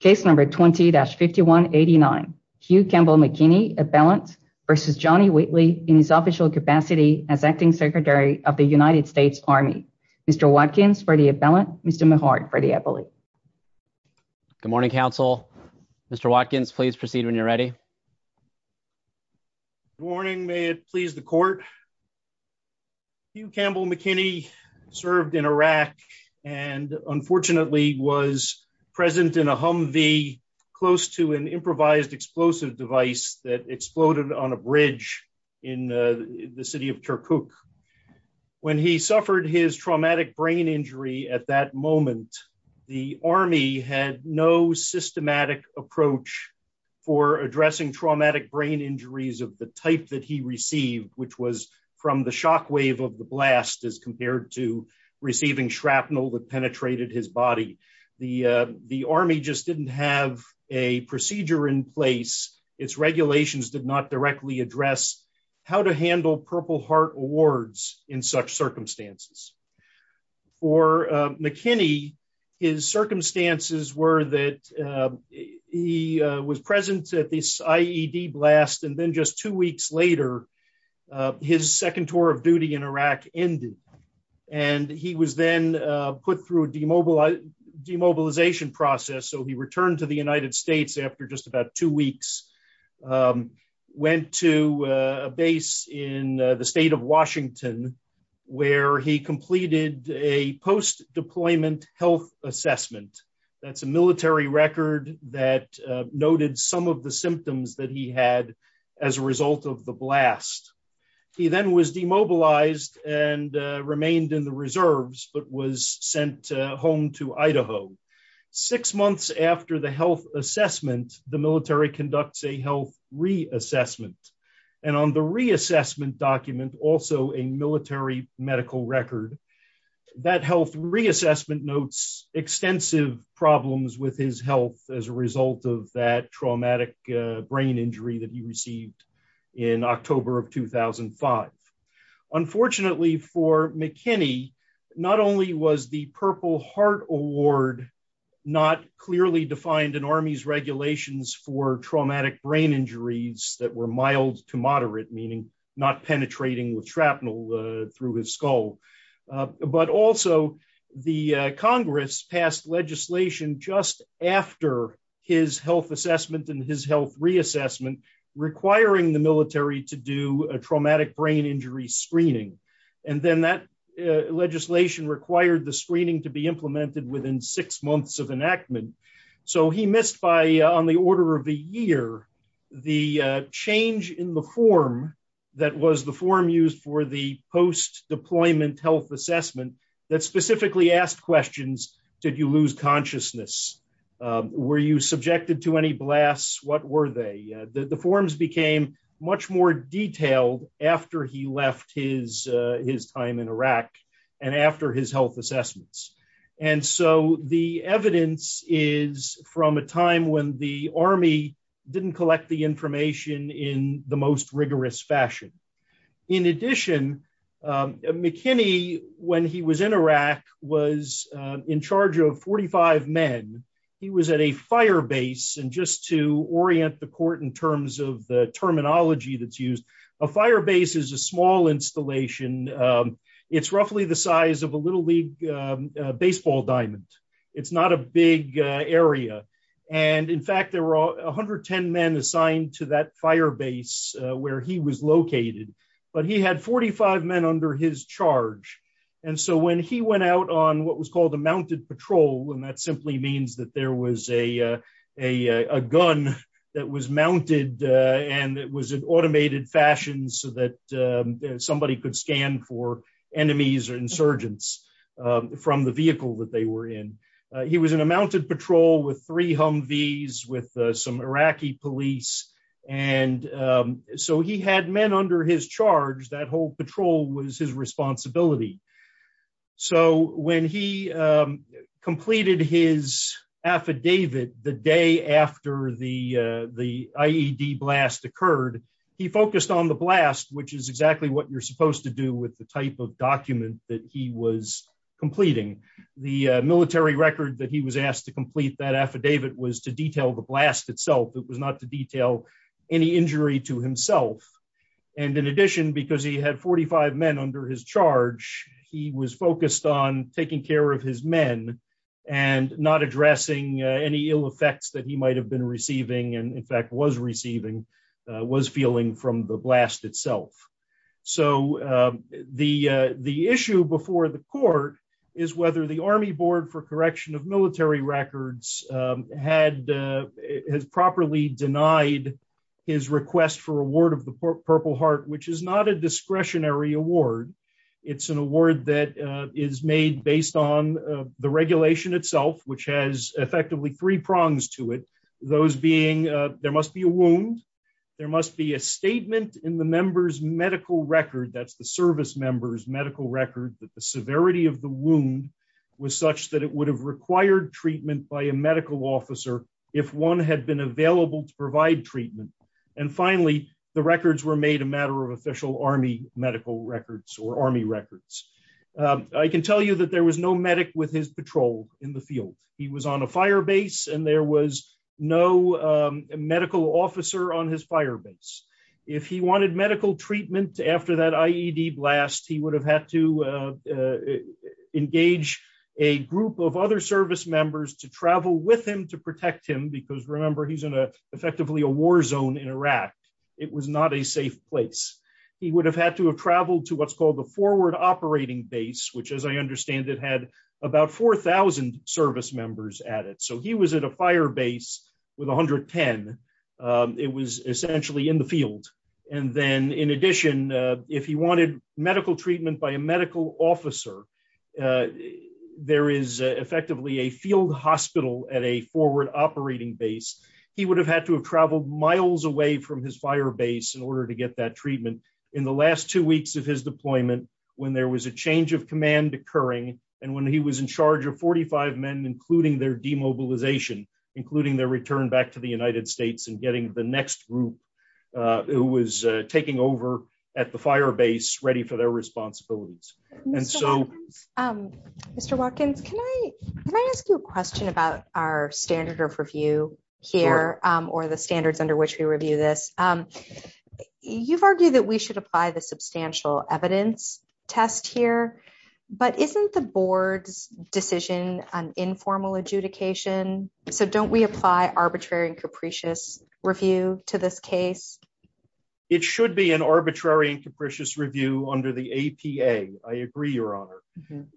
Case number 20-5189 Hugh Campbell McKinney appellant v. John E. Whitley in his official capacity as acting secretary of the United States Army Mr. Watkins for the appellant Mr. Mehard for the appellate Good morning counsel Mr. Watkins please proceed when you're ready Good morning may it please the court Hugh in a Humvee close to an improvised explosive device that exploded on a bridge in the city of Turkuk when he suffered his traumatic brain injury at that moment the army had no systematic approach for addressing traumatic brain injuries of the type that he received which was from the just didn't have a procedure in place its regulations did not directly address how to handle purple heart awards in such circumstances for McKinney his circumstances were that he was present at this IED blast and then just two weeks later his second tour of so he returned to the United States after just about two weeks went to a base in the state of Washington where he completed a post-deployment health assessment that's a military record that noted some of the symptoms that he had as a result of the blast he then was demobilized and remained in the reserves but was sent home to Idaho six months after the health assessment the military conducts a health reassessment and on the reassessment document also a military medical record that health reassessment notes extensive problems with his health as a result of that traumatic brain injury that he received in October of 2005 unfortunately for McKinney not only was the purple heart award not clearly defined in army's regulations for traumatic brain injuries that were mild to moderate meaning not penetrating with shrapnel through his skull but also the congress passed legislation just after his health assessment and his health reassessment requiring the military to do a traumatic brain injury screening and then that legislation required the screening to be implemented within six months of enactment so he missed by on the order of the year the change in the form that was the form used for post-deployment health assessment that specifically asked questions did you lose consciousness were you subjected to any blasts what were they the forms became much more detailed after he left his time in Iraq and after his health assessments and so the evidence is from a time when the army didn't collect the information in the most rigorous fashion in addition McKinney when he was in Iraq was in charge of 45 men he was at a fire base and just to orient the court in terms of the terminology that's used a fire base is a small installation it's roughly the size of a little league baseball diamond it's not a big area and in fact there were 110 men assigned to that fire base where he was located but he had 45 men under his charge and so when he went out on what was called a mounted patrol and that simply means that there was a a a gun that was mounted and it was an automated fashion so that somebody could scan for enemies or insurgents from the vehicle that they were in he was in a mounted patrol with three v's with some Iraqi police and so he had men under his charge that whole patrol was his responsibility so when he completed his affidavit the day after the the IED blast occurred he focused on the blast which is exactly what you're supposed to do with the type of document that he was completing the military record that he was asked to complete that affidavit was to detail the blast itself it was not to detail any injury to himself and in addition because he had 45 men under his charge he was focused on taking care of his men and not addressing any ill effects that he might have been receiving and in fact was receiving was feeling from the blast itself so the the issue before the court is whether the army board for correction of military records had has properly denied his request for award of the purple heart which is not a discretionary award it's an award that is made based on the regulation itself which has effectively three that's the service members medical record that the severity of the wound was such that it would have required treatment by a medical officer if one had been available to provide treatment and finally the records were made a matter of official army medical records or army records i can tell you that there was no medic with his patrol in the field he was on a fire base and there was no medical officer on his fire base if he wanted medical treatment after that ied blast he would have had to engage a group of other service members to travel with him to protect him because remember he's in a effectively a war zone in iraq it was not a safe place he would have had to have traveled to what's called the forward operating base which as i understand it about 4 000 service members at it so he was at a fire base with 110 it was essentially in the field and then in addition if he wanted medical treatment by a medical officer there is effectively a field hospital at a forward operating base he would have had to have traveled miles away from his fire base in order to get that treatment in the last two weeks of his deployment when there was a change of command occurring and when he was in charge of 45 men including their demobilization including their return back to the united states and getting the next group uh who was taking over at the fire base ready for their responsibilities and so um mr walkins can i can i ask you a question about our standard of review here um or the standards under which we review this um you've argued that we should apply the substantial evidence test here but isn't the board's decision an informal adjudication so don't we apply arbitrary and capricious review to this case it should be an arbitrary and capricious review under the apa i agree your honor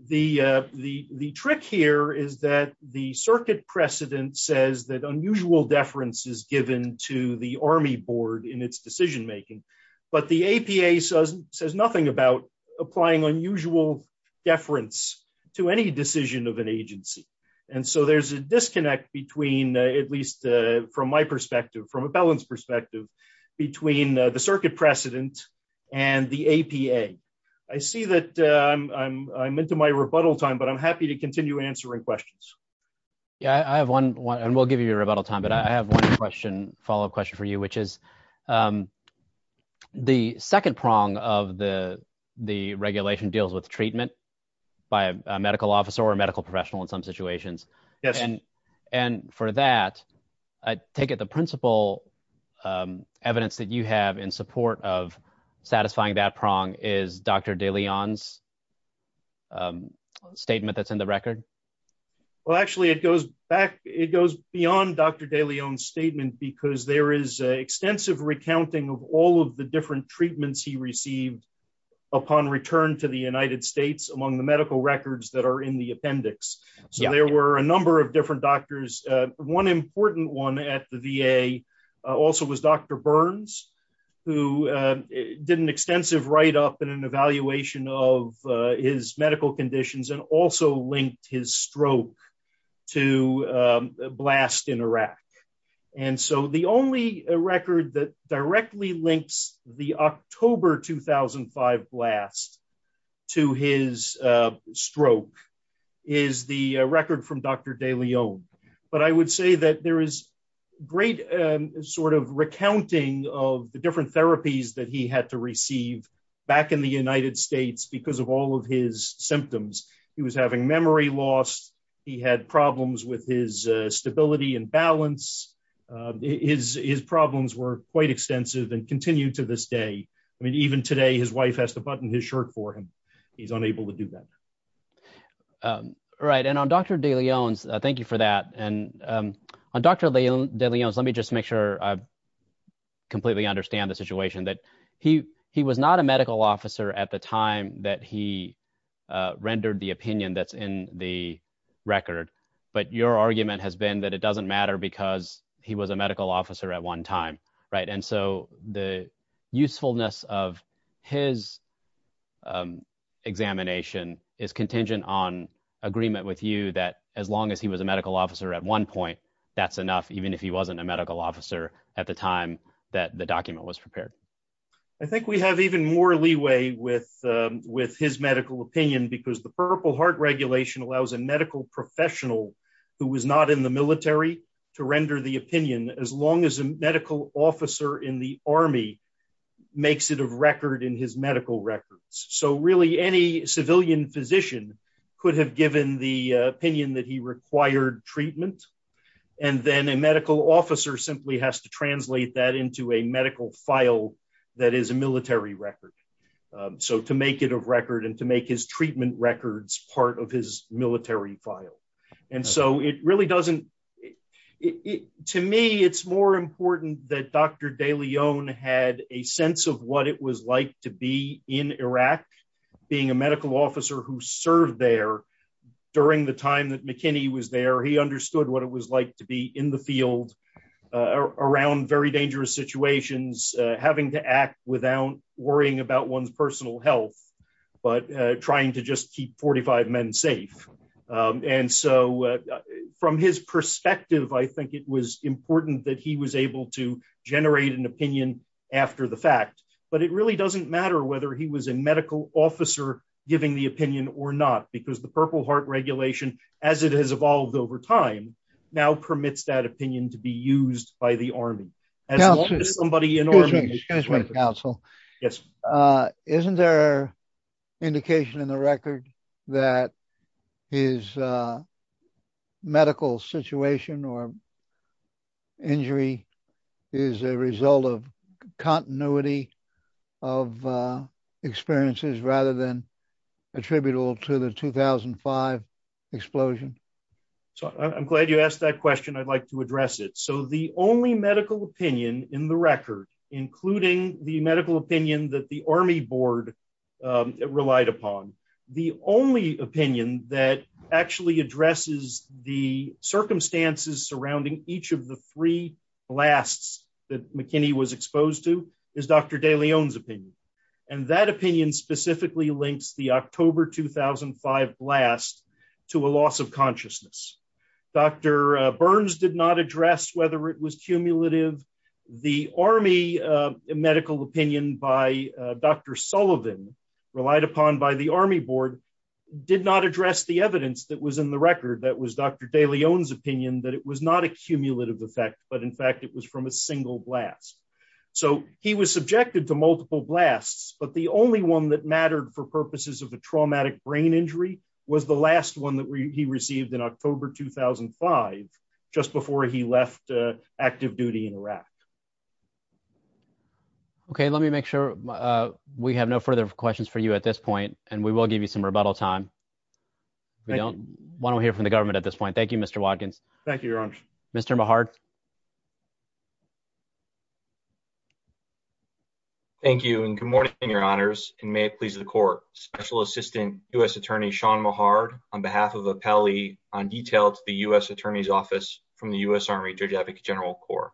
the uh the the trick here is that the circuit precedent says that unusual deference is given to the army board in its decision making but the apa says says nothing about applying unusual deference to any decision of an agency and so there's a disconnect between at least uh from my perspective from a balanced perspective between the circuit precedent and the apa i see that i'm i'm into my rebuttal time but i'm happy to continue answering questions yeah i have one one and we'll give you a rebuttal time but i have a question follow-up question for you which is um the second prong of the the regulation deals with treatment by a medical officer or medical professional in some situations yes and and for that i take it the principal um evidence that you have in support of satisfying that prong is dr de leon's um statement that's in the record well actually it goes back it goes beyond dr de leon's statement because there is extensive recounting of all of the different treatments he received upon return to the united states among the medical records that are in the appendix so there were a number of different doctors one important one at the va also was dr burns who did an extensive write-up and an evaluation of his medical conditions and also linked his stroke to blast in iraq and so the only record that directly links the october 2005 blast to his stroke is the record from dr de leon but i would say that there is great sort of recounting of the different therapies that he had to receive back in the united states because of all of his symptoms he was having memory loss he had problems with his stability and balance his his problems were quite extensive and continue to this day i mean even today his wife has to button his shirt for him he's unable to do that right and on dr de leon's thank you for that and um on dr de leon's let me just make sure i completely understand the situation that he he was not a medical officer at the time that he rendered the opinion that's in the record but your argument has been that it doesn't matter because he was a medical officer at one time right and so the usefulness of his examination is contingent on agreement with you that as long as he was a medical officer at one point that's enough even if he wasn't a medical officer at the time that the document was prepared i think we have even more leeway with with his medical opinion because the purple heart regulation allows a medical professional who was not in the military to render the opinion as long as a medical officer in the army makes it a record in his medical records so really any civilian physician could have given the to translate that into a medical file that is a military record so to make it a record and to make his treatment records part of his military file and so it really doesn't it to me it's more important that dr de leon had a sense of what it was like to be in iraq being a medical officer who served there during the time that mckinney was there he understood what it was like to be in the field around very dangerous situations having to act without worrying about one's personal health but trying to just keep 45 men safe and so from his perspective i think it was important that he was able to generate an opinion after the fact but it really doesn't matter whether he was a medical officer giving the opinion or not because the purple heart regulation as it has evolved over time now permits that opinion to be used by the army as long as somebody in order to counsel yes uh isn't there indication in the record that his uh medical situation or injury is a result of continuity of uh experiences rather than attributable to the 2005 explosion so i'm glad you asked that question i'd like to address it so the only medical opinion in the record including the medical opinion that the army board um relied upon the only opinion that actually addresses the circumstances surrounding each of the three blasts that mckinney was exposed to is dr de leon's opinion and that opinion specifically links the october 2005 blast to a loss of consciousness dr burns did not address whether it was cumulative the army medical opinion by dr sullivan relied upon by the army board did not address the evidence that was in the record that was dr de leon's opinion that it was not a cumulative effect but in fact it was from a single blast so he was subjected to multiple blasts but the only one that the traumatic brain injury was the last one that he received in october 2005 just before he left active duty in iraq okay let me make sure uh we have no further questions for you at this point and we will give you some rebuttal time we don't want to hear from the government at this point thank you mr watkins thank you your honor mr mahart thank you and good morning your honors and may it please the court special assistant u.s attorney sean mahart on behalf of appellee on detail to the u.s attorney's office from the u.s army judge advocate general corps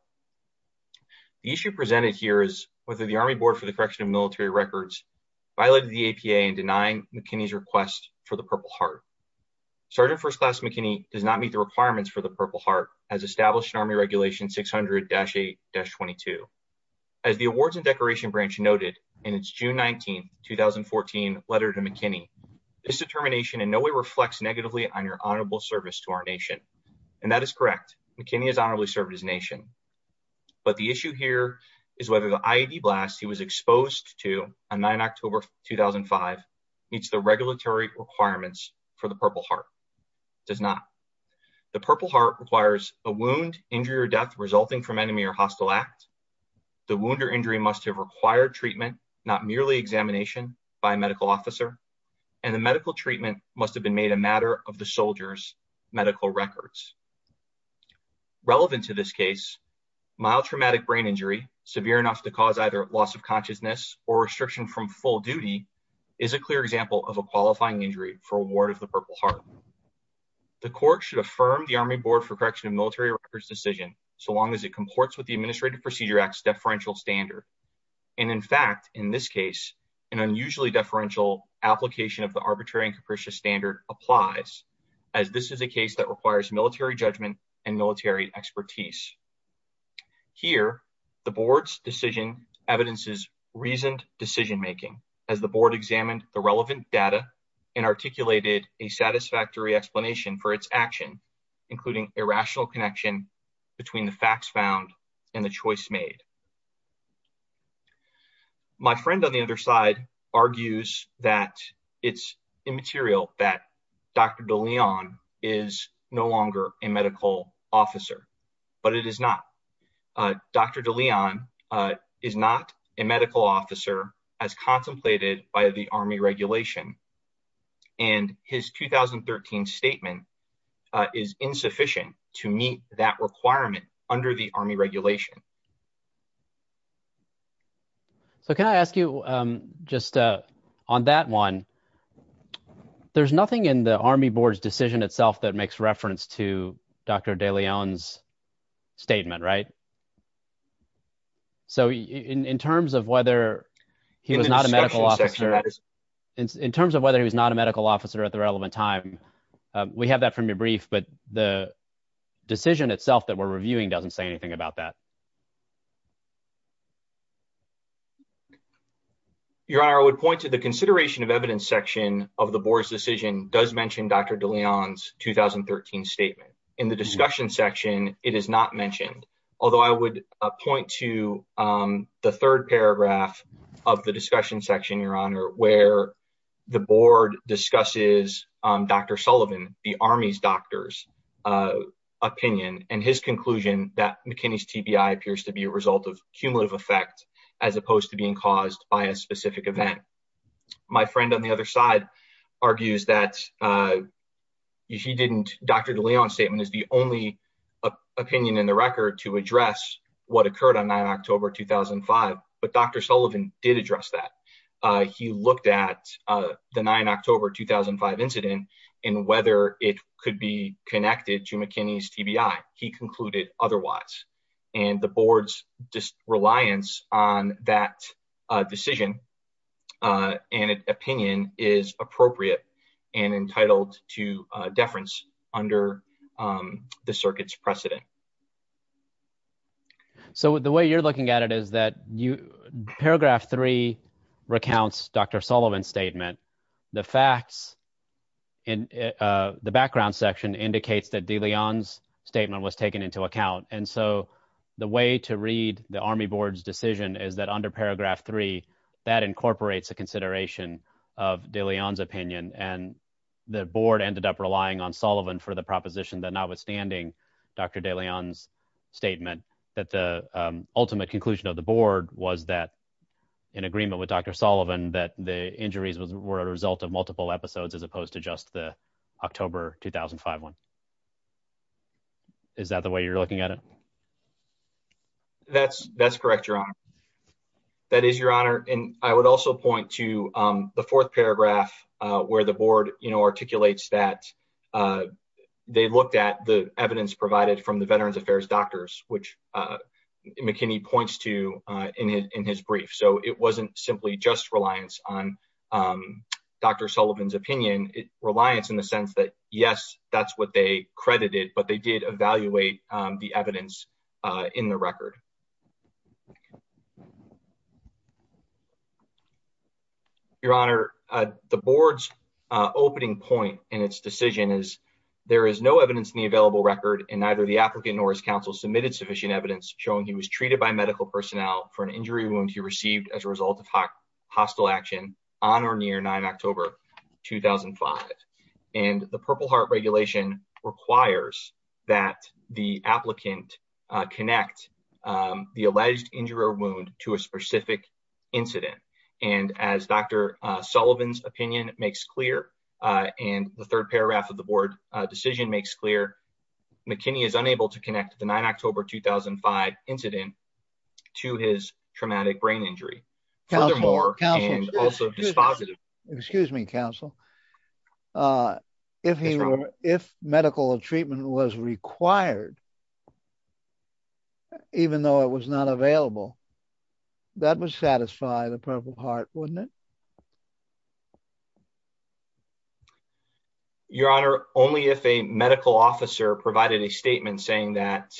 the issue presented here is whether the army board for the correction of military records violated the apa and denying mckinney's request for the purple heart sergeant first class mckinney does not meet the requirements for the purple heart has established an army regulation 600-8-22 as the awards and decoration branch noted in its june 19 2014 letter to mckinney this determination in no way reflects negatively on your honorable service to our nation and that is correct mckinney has honorably served his nation but the issue here is whether the iad blast he was exposed to on 9 october 2005 meets the regulatory requirements for the purple heart does not the purple heart requires a wound injury or death resulting from enemy or hostile act the wound or injury must have required treatment not merely examination by a medical officer and the medical treatment must have been made a matter of the soldier's medical records relevant to this case mild traumatic brain injury severe enough to cause either loss of consciousness or restriction from full duty is a clear example of a qualifying injury for award of the purple heart the court should affirm the army board for correction of military records decision so long as it comports with the administrative procedure acts deferential standard and in fact in this case an unusually deferential application of the arbitrary and capricious standard applies as this is a case that requires military judgment and military expertise here the board's decision evidences reasoned decision making as the board examined the and articulated a satisfactory explanation for its action including a rational connection between the facts found and the choice made my friend on the other side argues that it's immaterial that dr de leon is no longer a medical officer but it is not uh dr de leon uh is not a medical officer as contemplated by the army regulation and his 2013 statement is insufficient to meet that requirement under the army regulation so can i ask you um just uh on that one there's nothing in the army board's decision itself that makes reference to dr de leon's statement right so in in terms of whether he was not a medical officer in terms of whether he was not a medical officer at the relevant time we have that from your brief but the decision itself that we're reviewing doesn't say anything about that your honor i would point to the consideration of evidence section of the board's decision does mention dr de leon's 2013 statement in the discussion section it is not mentioned although i would point to um the third paragraph of the discussion section your honor where the board discusses um dr sullivan the army's doctors uh opinion and his conclusion that mckinney's tbi appears to be a result of cumulative effect as opposed to being caused by a specific event my friend on the other side argues that uh he didn't dr de leon statement is the only opinion in the record to address what occurred on 9 october 2005 but dr sullivan did address that he looked at uh the 9 october 2005 incident and whether it could be connected to mckinney's tbi he concluded otherwise and the board's reliance on that decision and opinion is appropriate and entitled to uh deference under um the circuit's precedent so the way you're looking at it is that you paragraph three recounts dr sullivan's statement the facts in uh the background section indicates that de leon's statement was taken into account and so the way to read the army board's decision is that under paragraph three that incorporates a consideration of de leon's opinion and the board ended up relying on sullivan for the proposition that notwithstanding dr de leon's statement that the ultimate conclusion of the board was that in agreement with dr sullivan that the injuries were a result of multiple episodes as opposed to just the october 2005 one is that the way you're looking at it that's that's correct your honor that is your honor and i would also point to um the fourth paragraph uh where the board you know articulates that uh they looked at the evidence provided from the veterans affairs doctors which uh mckinney points to uh in his brief so it wasn't simply just reliance on um dr sullivan's opinion it reliance in the sense that yes that's what they credited but they did evaluate the evidence in the record your honor the board's opening point in its decision is there is no evidence in the available record and neither the applicant nor his counsel submitted sufficient evidence showing he was treated by medical personnel for an injury wound he received as a result of hostile action on or near 9 october 2005 and the purple heart regulation requires that the applicant connect the alleged injury or wound to a specific incident and as dr sullivan's opinion makes clear and the third paragraph of the board decision makes clear mckinney is unable to connect the 9 october 2005 incident to his traumatic brain injury furthermore and also dispositive excuse me counsel uh if he were if medical treatment was required even though it was not available that would satisfy the purple heart wouldn't it your honor only if a medical officer provided a statement saying that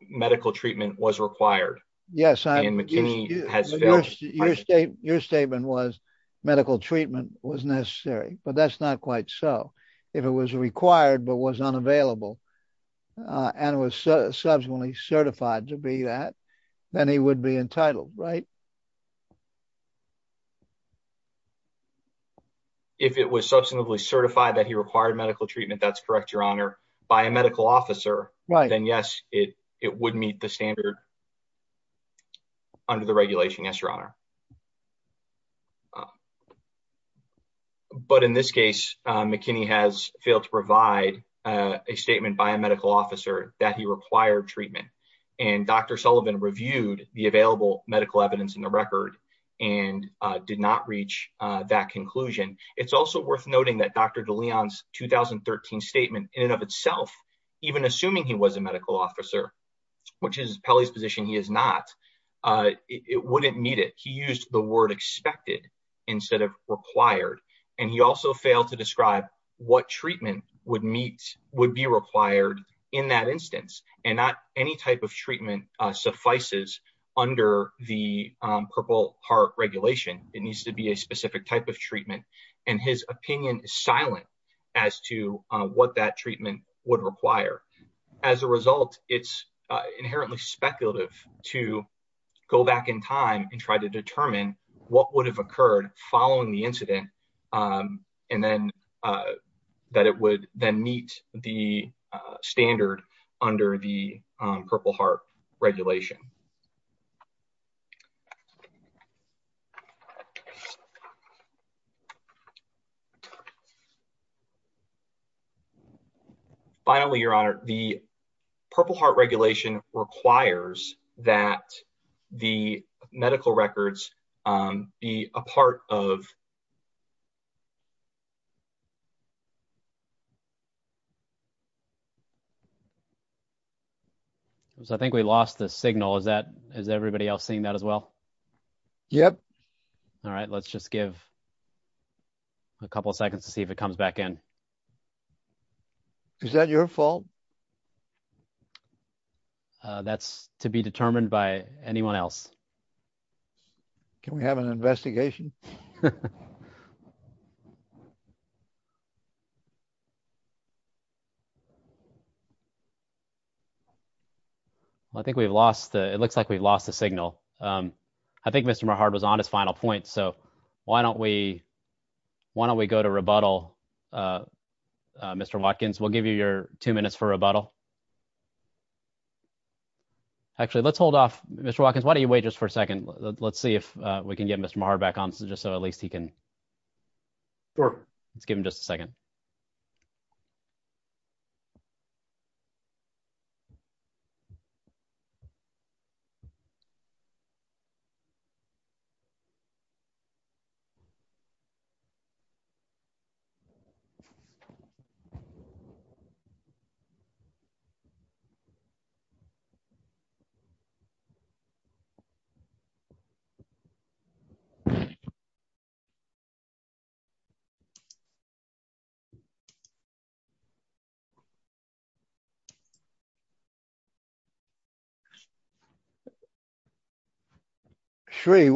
medical treatment was required yes and mckinney has your state your statement was medical treatment was necessary but that's not quite so if it was required but was unavailable and was subsequently certified to be that then he would be entitled right to medical treatment if it was substantively certified that he required medical treatment that's correct your honor by a medical officer right then yes it it would meet the standard under the regulation yes your honor but in this case mckinney has failed to provide a statement by a medical officer that he required and dr sullivan reviewed the available medical evidence in the record and did not reach that conclusion it's also worth noting that dr de leon's 2013 statement in and of itself even assuming he was a medical officer which is pelly's position he is not it wouldn't meet it he used the word expected instead of required and he also failed to describe what treatment would meet would be required in that instance and not any type of treatment suffices under the purple heart regulation it needs to be a specific type of treatment and his opinion is silent as to what that treatment would require as a result it's inherently speculative to go back in time and try to determine what would have occurred following the incident and then that it would then meet the standard under the purple heart regulation um finally your honor the purple heart regulation requires that the medical records um be a part of the so i think we lost the signal is that is everybody else seeing that as well yep all right let's just give a couple seconds to see if it comes back in is that your fault that's to be determined by anyone else can we have an investigation i think we've lost the it looks like we've lost the signal um i think mr maher was on his final point so why don't we why don't we go to rebuttal uh mr watkins we'll give you your two minutes for rebuttal actually let's hold off mr walkins why don't you wait just for a second let's see if we can get mr maher back on just so at least he can sure let's give him just a second so we can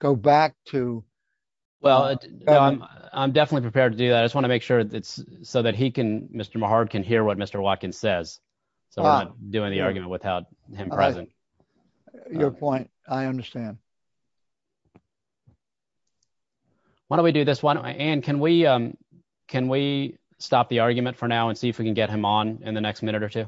go back to well I'm definitely prepared to do that I just want to make sure that's so that he can Mr. Mehard can hear what Mr. Watkins says so I'm not doing the argument without him present your point I understand why don't we do this one and can we can we stop the argument for now and see if we can get him on in the next minute or two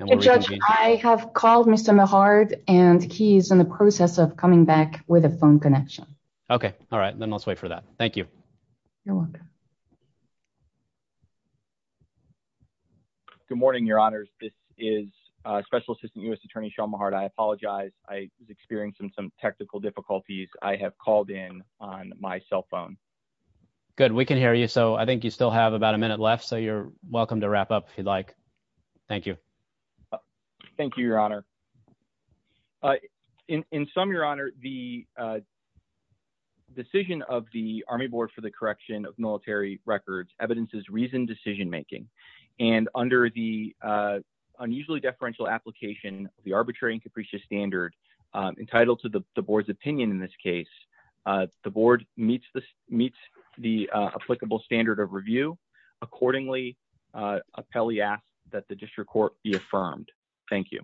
I have called Mr. Mehard and he's in the process of coming back with a phone connection okay all right then let's wait for that thank you you're welcome good morning your honors this is Special Assistant U.S. Attorney Shawn Mehard I apologize I was experiencing some technical difficulties I have called in on my cell phone good we can hear you so I think you still have about a minute left so you're welcome to wrap up if you'd like thank you thank you your honor in sum your honor the decision of the Army Board for the Correction of Military Records evidences reasoned decision making and under the unusually deferential application the arbitrary and capricious standard entitled to the board's opinion in this case the board meets this meets the applicable standard of review accordingly appellee asked that the district court be affirmed thank you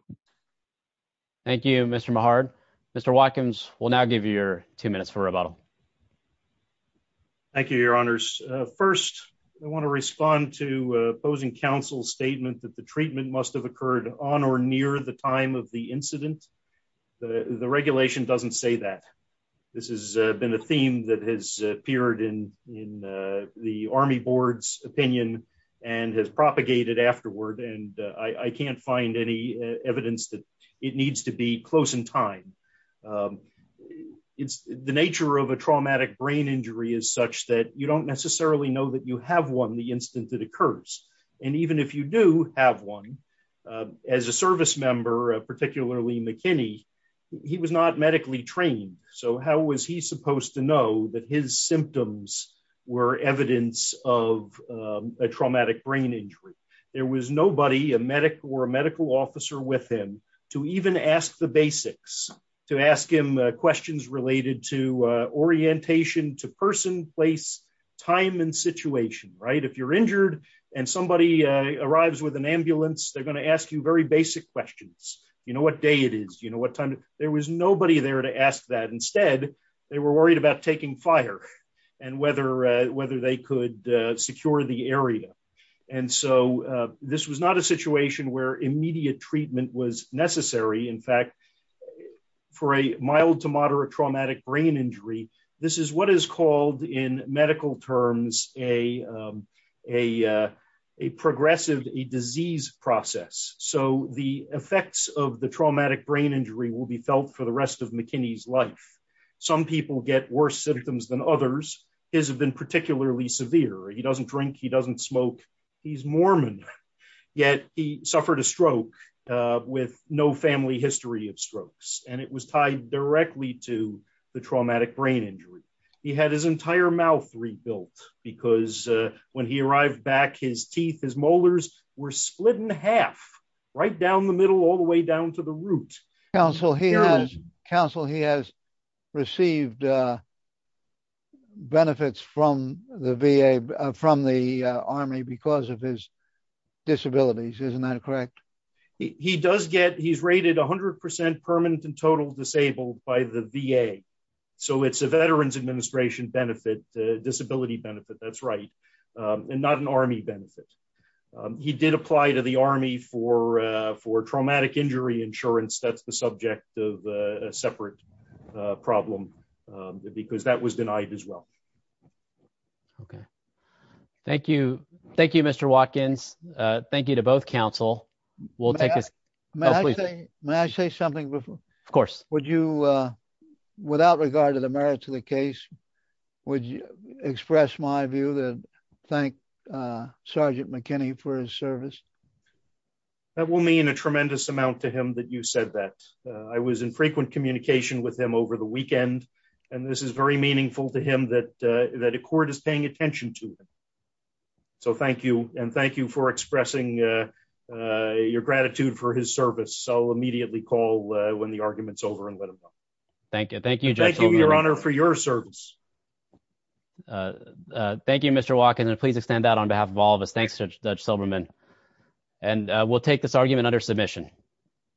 thank you Mr. Mehard Mr. Watkins will now give you your two minutes for rebuttal thank you your honors first I want to respond to opposing counsel's statement that the treatment must have occurred on or near the time of the incident the the regulation doesn't say that this has been a theme that has appeared in in the Army Board's opinion and has propagated afterward and I can't find any evidence that it needs to be close in time it's the nature of a traumatic brain injury is such that you don't necessarily know that you have one the instant it occurs and even if you do have one as a service member particularly McKinney he was not medically trained so how was he supposed to know that his symptoms were evidence of a traumatic brain injury there was nobody a medic or a medical officer with him to even ask the basics to ask him questions related to orientation to person place time and situation right if you're injured and somebody arrives with an ambulance they're going to ask you very basic questions you know what day it is you know what time there was nobody there to ask that instead they were worried about taking fire and whether whether they could secure the area and so this was not a situation where immediate treatment was necessary in fact for a mild to moderate traumatic brain injury this is what is called in medical terms a a progressive a disease process so the effects of the traumatic brain injury will be felt for the rest of McKinney's life some people get worse symptoms than others his have been particularly severe he doesn't drink he doesn't smoke he's Mormon yet he suffered a stroke with no family history of strokes and it was tied directly to the he had his entire mouth rebuilt because when he arrived back his teeth his molars were split in half right down the middle all the way down to the root counsel he has counsel he has received benefits from the VA from the Army because of his disabilities isn't that correct he does get he's 100% permanent and total disabled by the VA so it's a Veterans Administration benefit disability benefit that's right and not an Army benefit he did apply to the Army for for traumatic injury insurance that's the subject of a separate problem because that was denied as well okay thank you thank you Mr. Watkins thank you to both counsel we'll take this may I say something before of course would you uh without regard to the merit to the case would you express my view that thank uh Sergeant McKinney for his service that will mean a tremendous amount to him that you said that I was in frequent communication with him over the weekend and this is very meaningful to him that uh that a court is so immediately call uh when the argument's over and let him know thank you thank you thank you your honor for your service uh uh thank you Mr. Watkins and please extend that on behalf of all of us thanks Judge Silberman and we'll take this argument under submission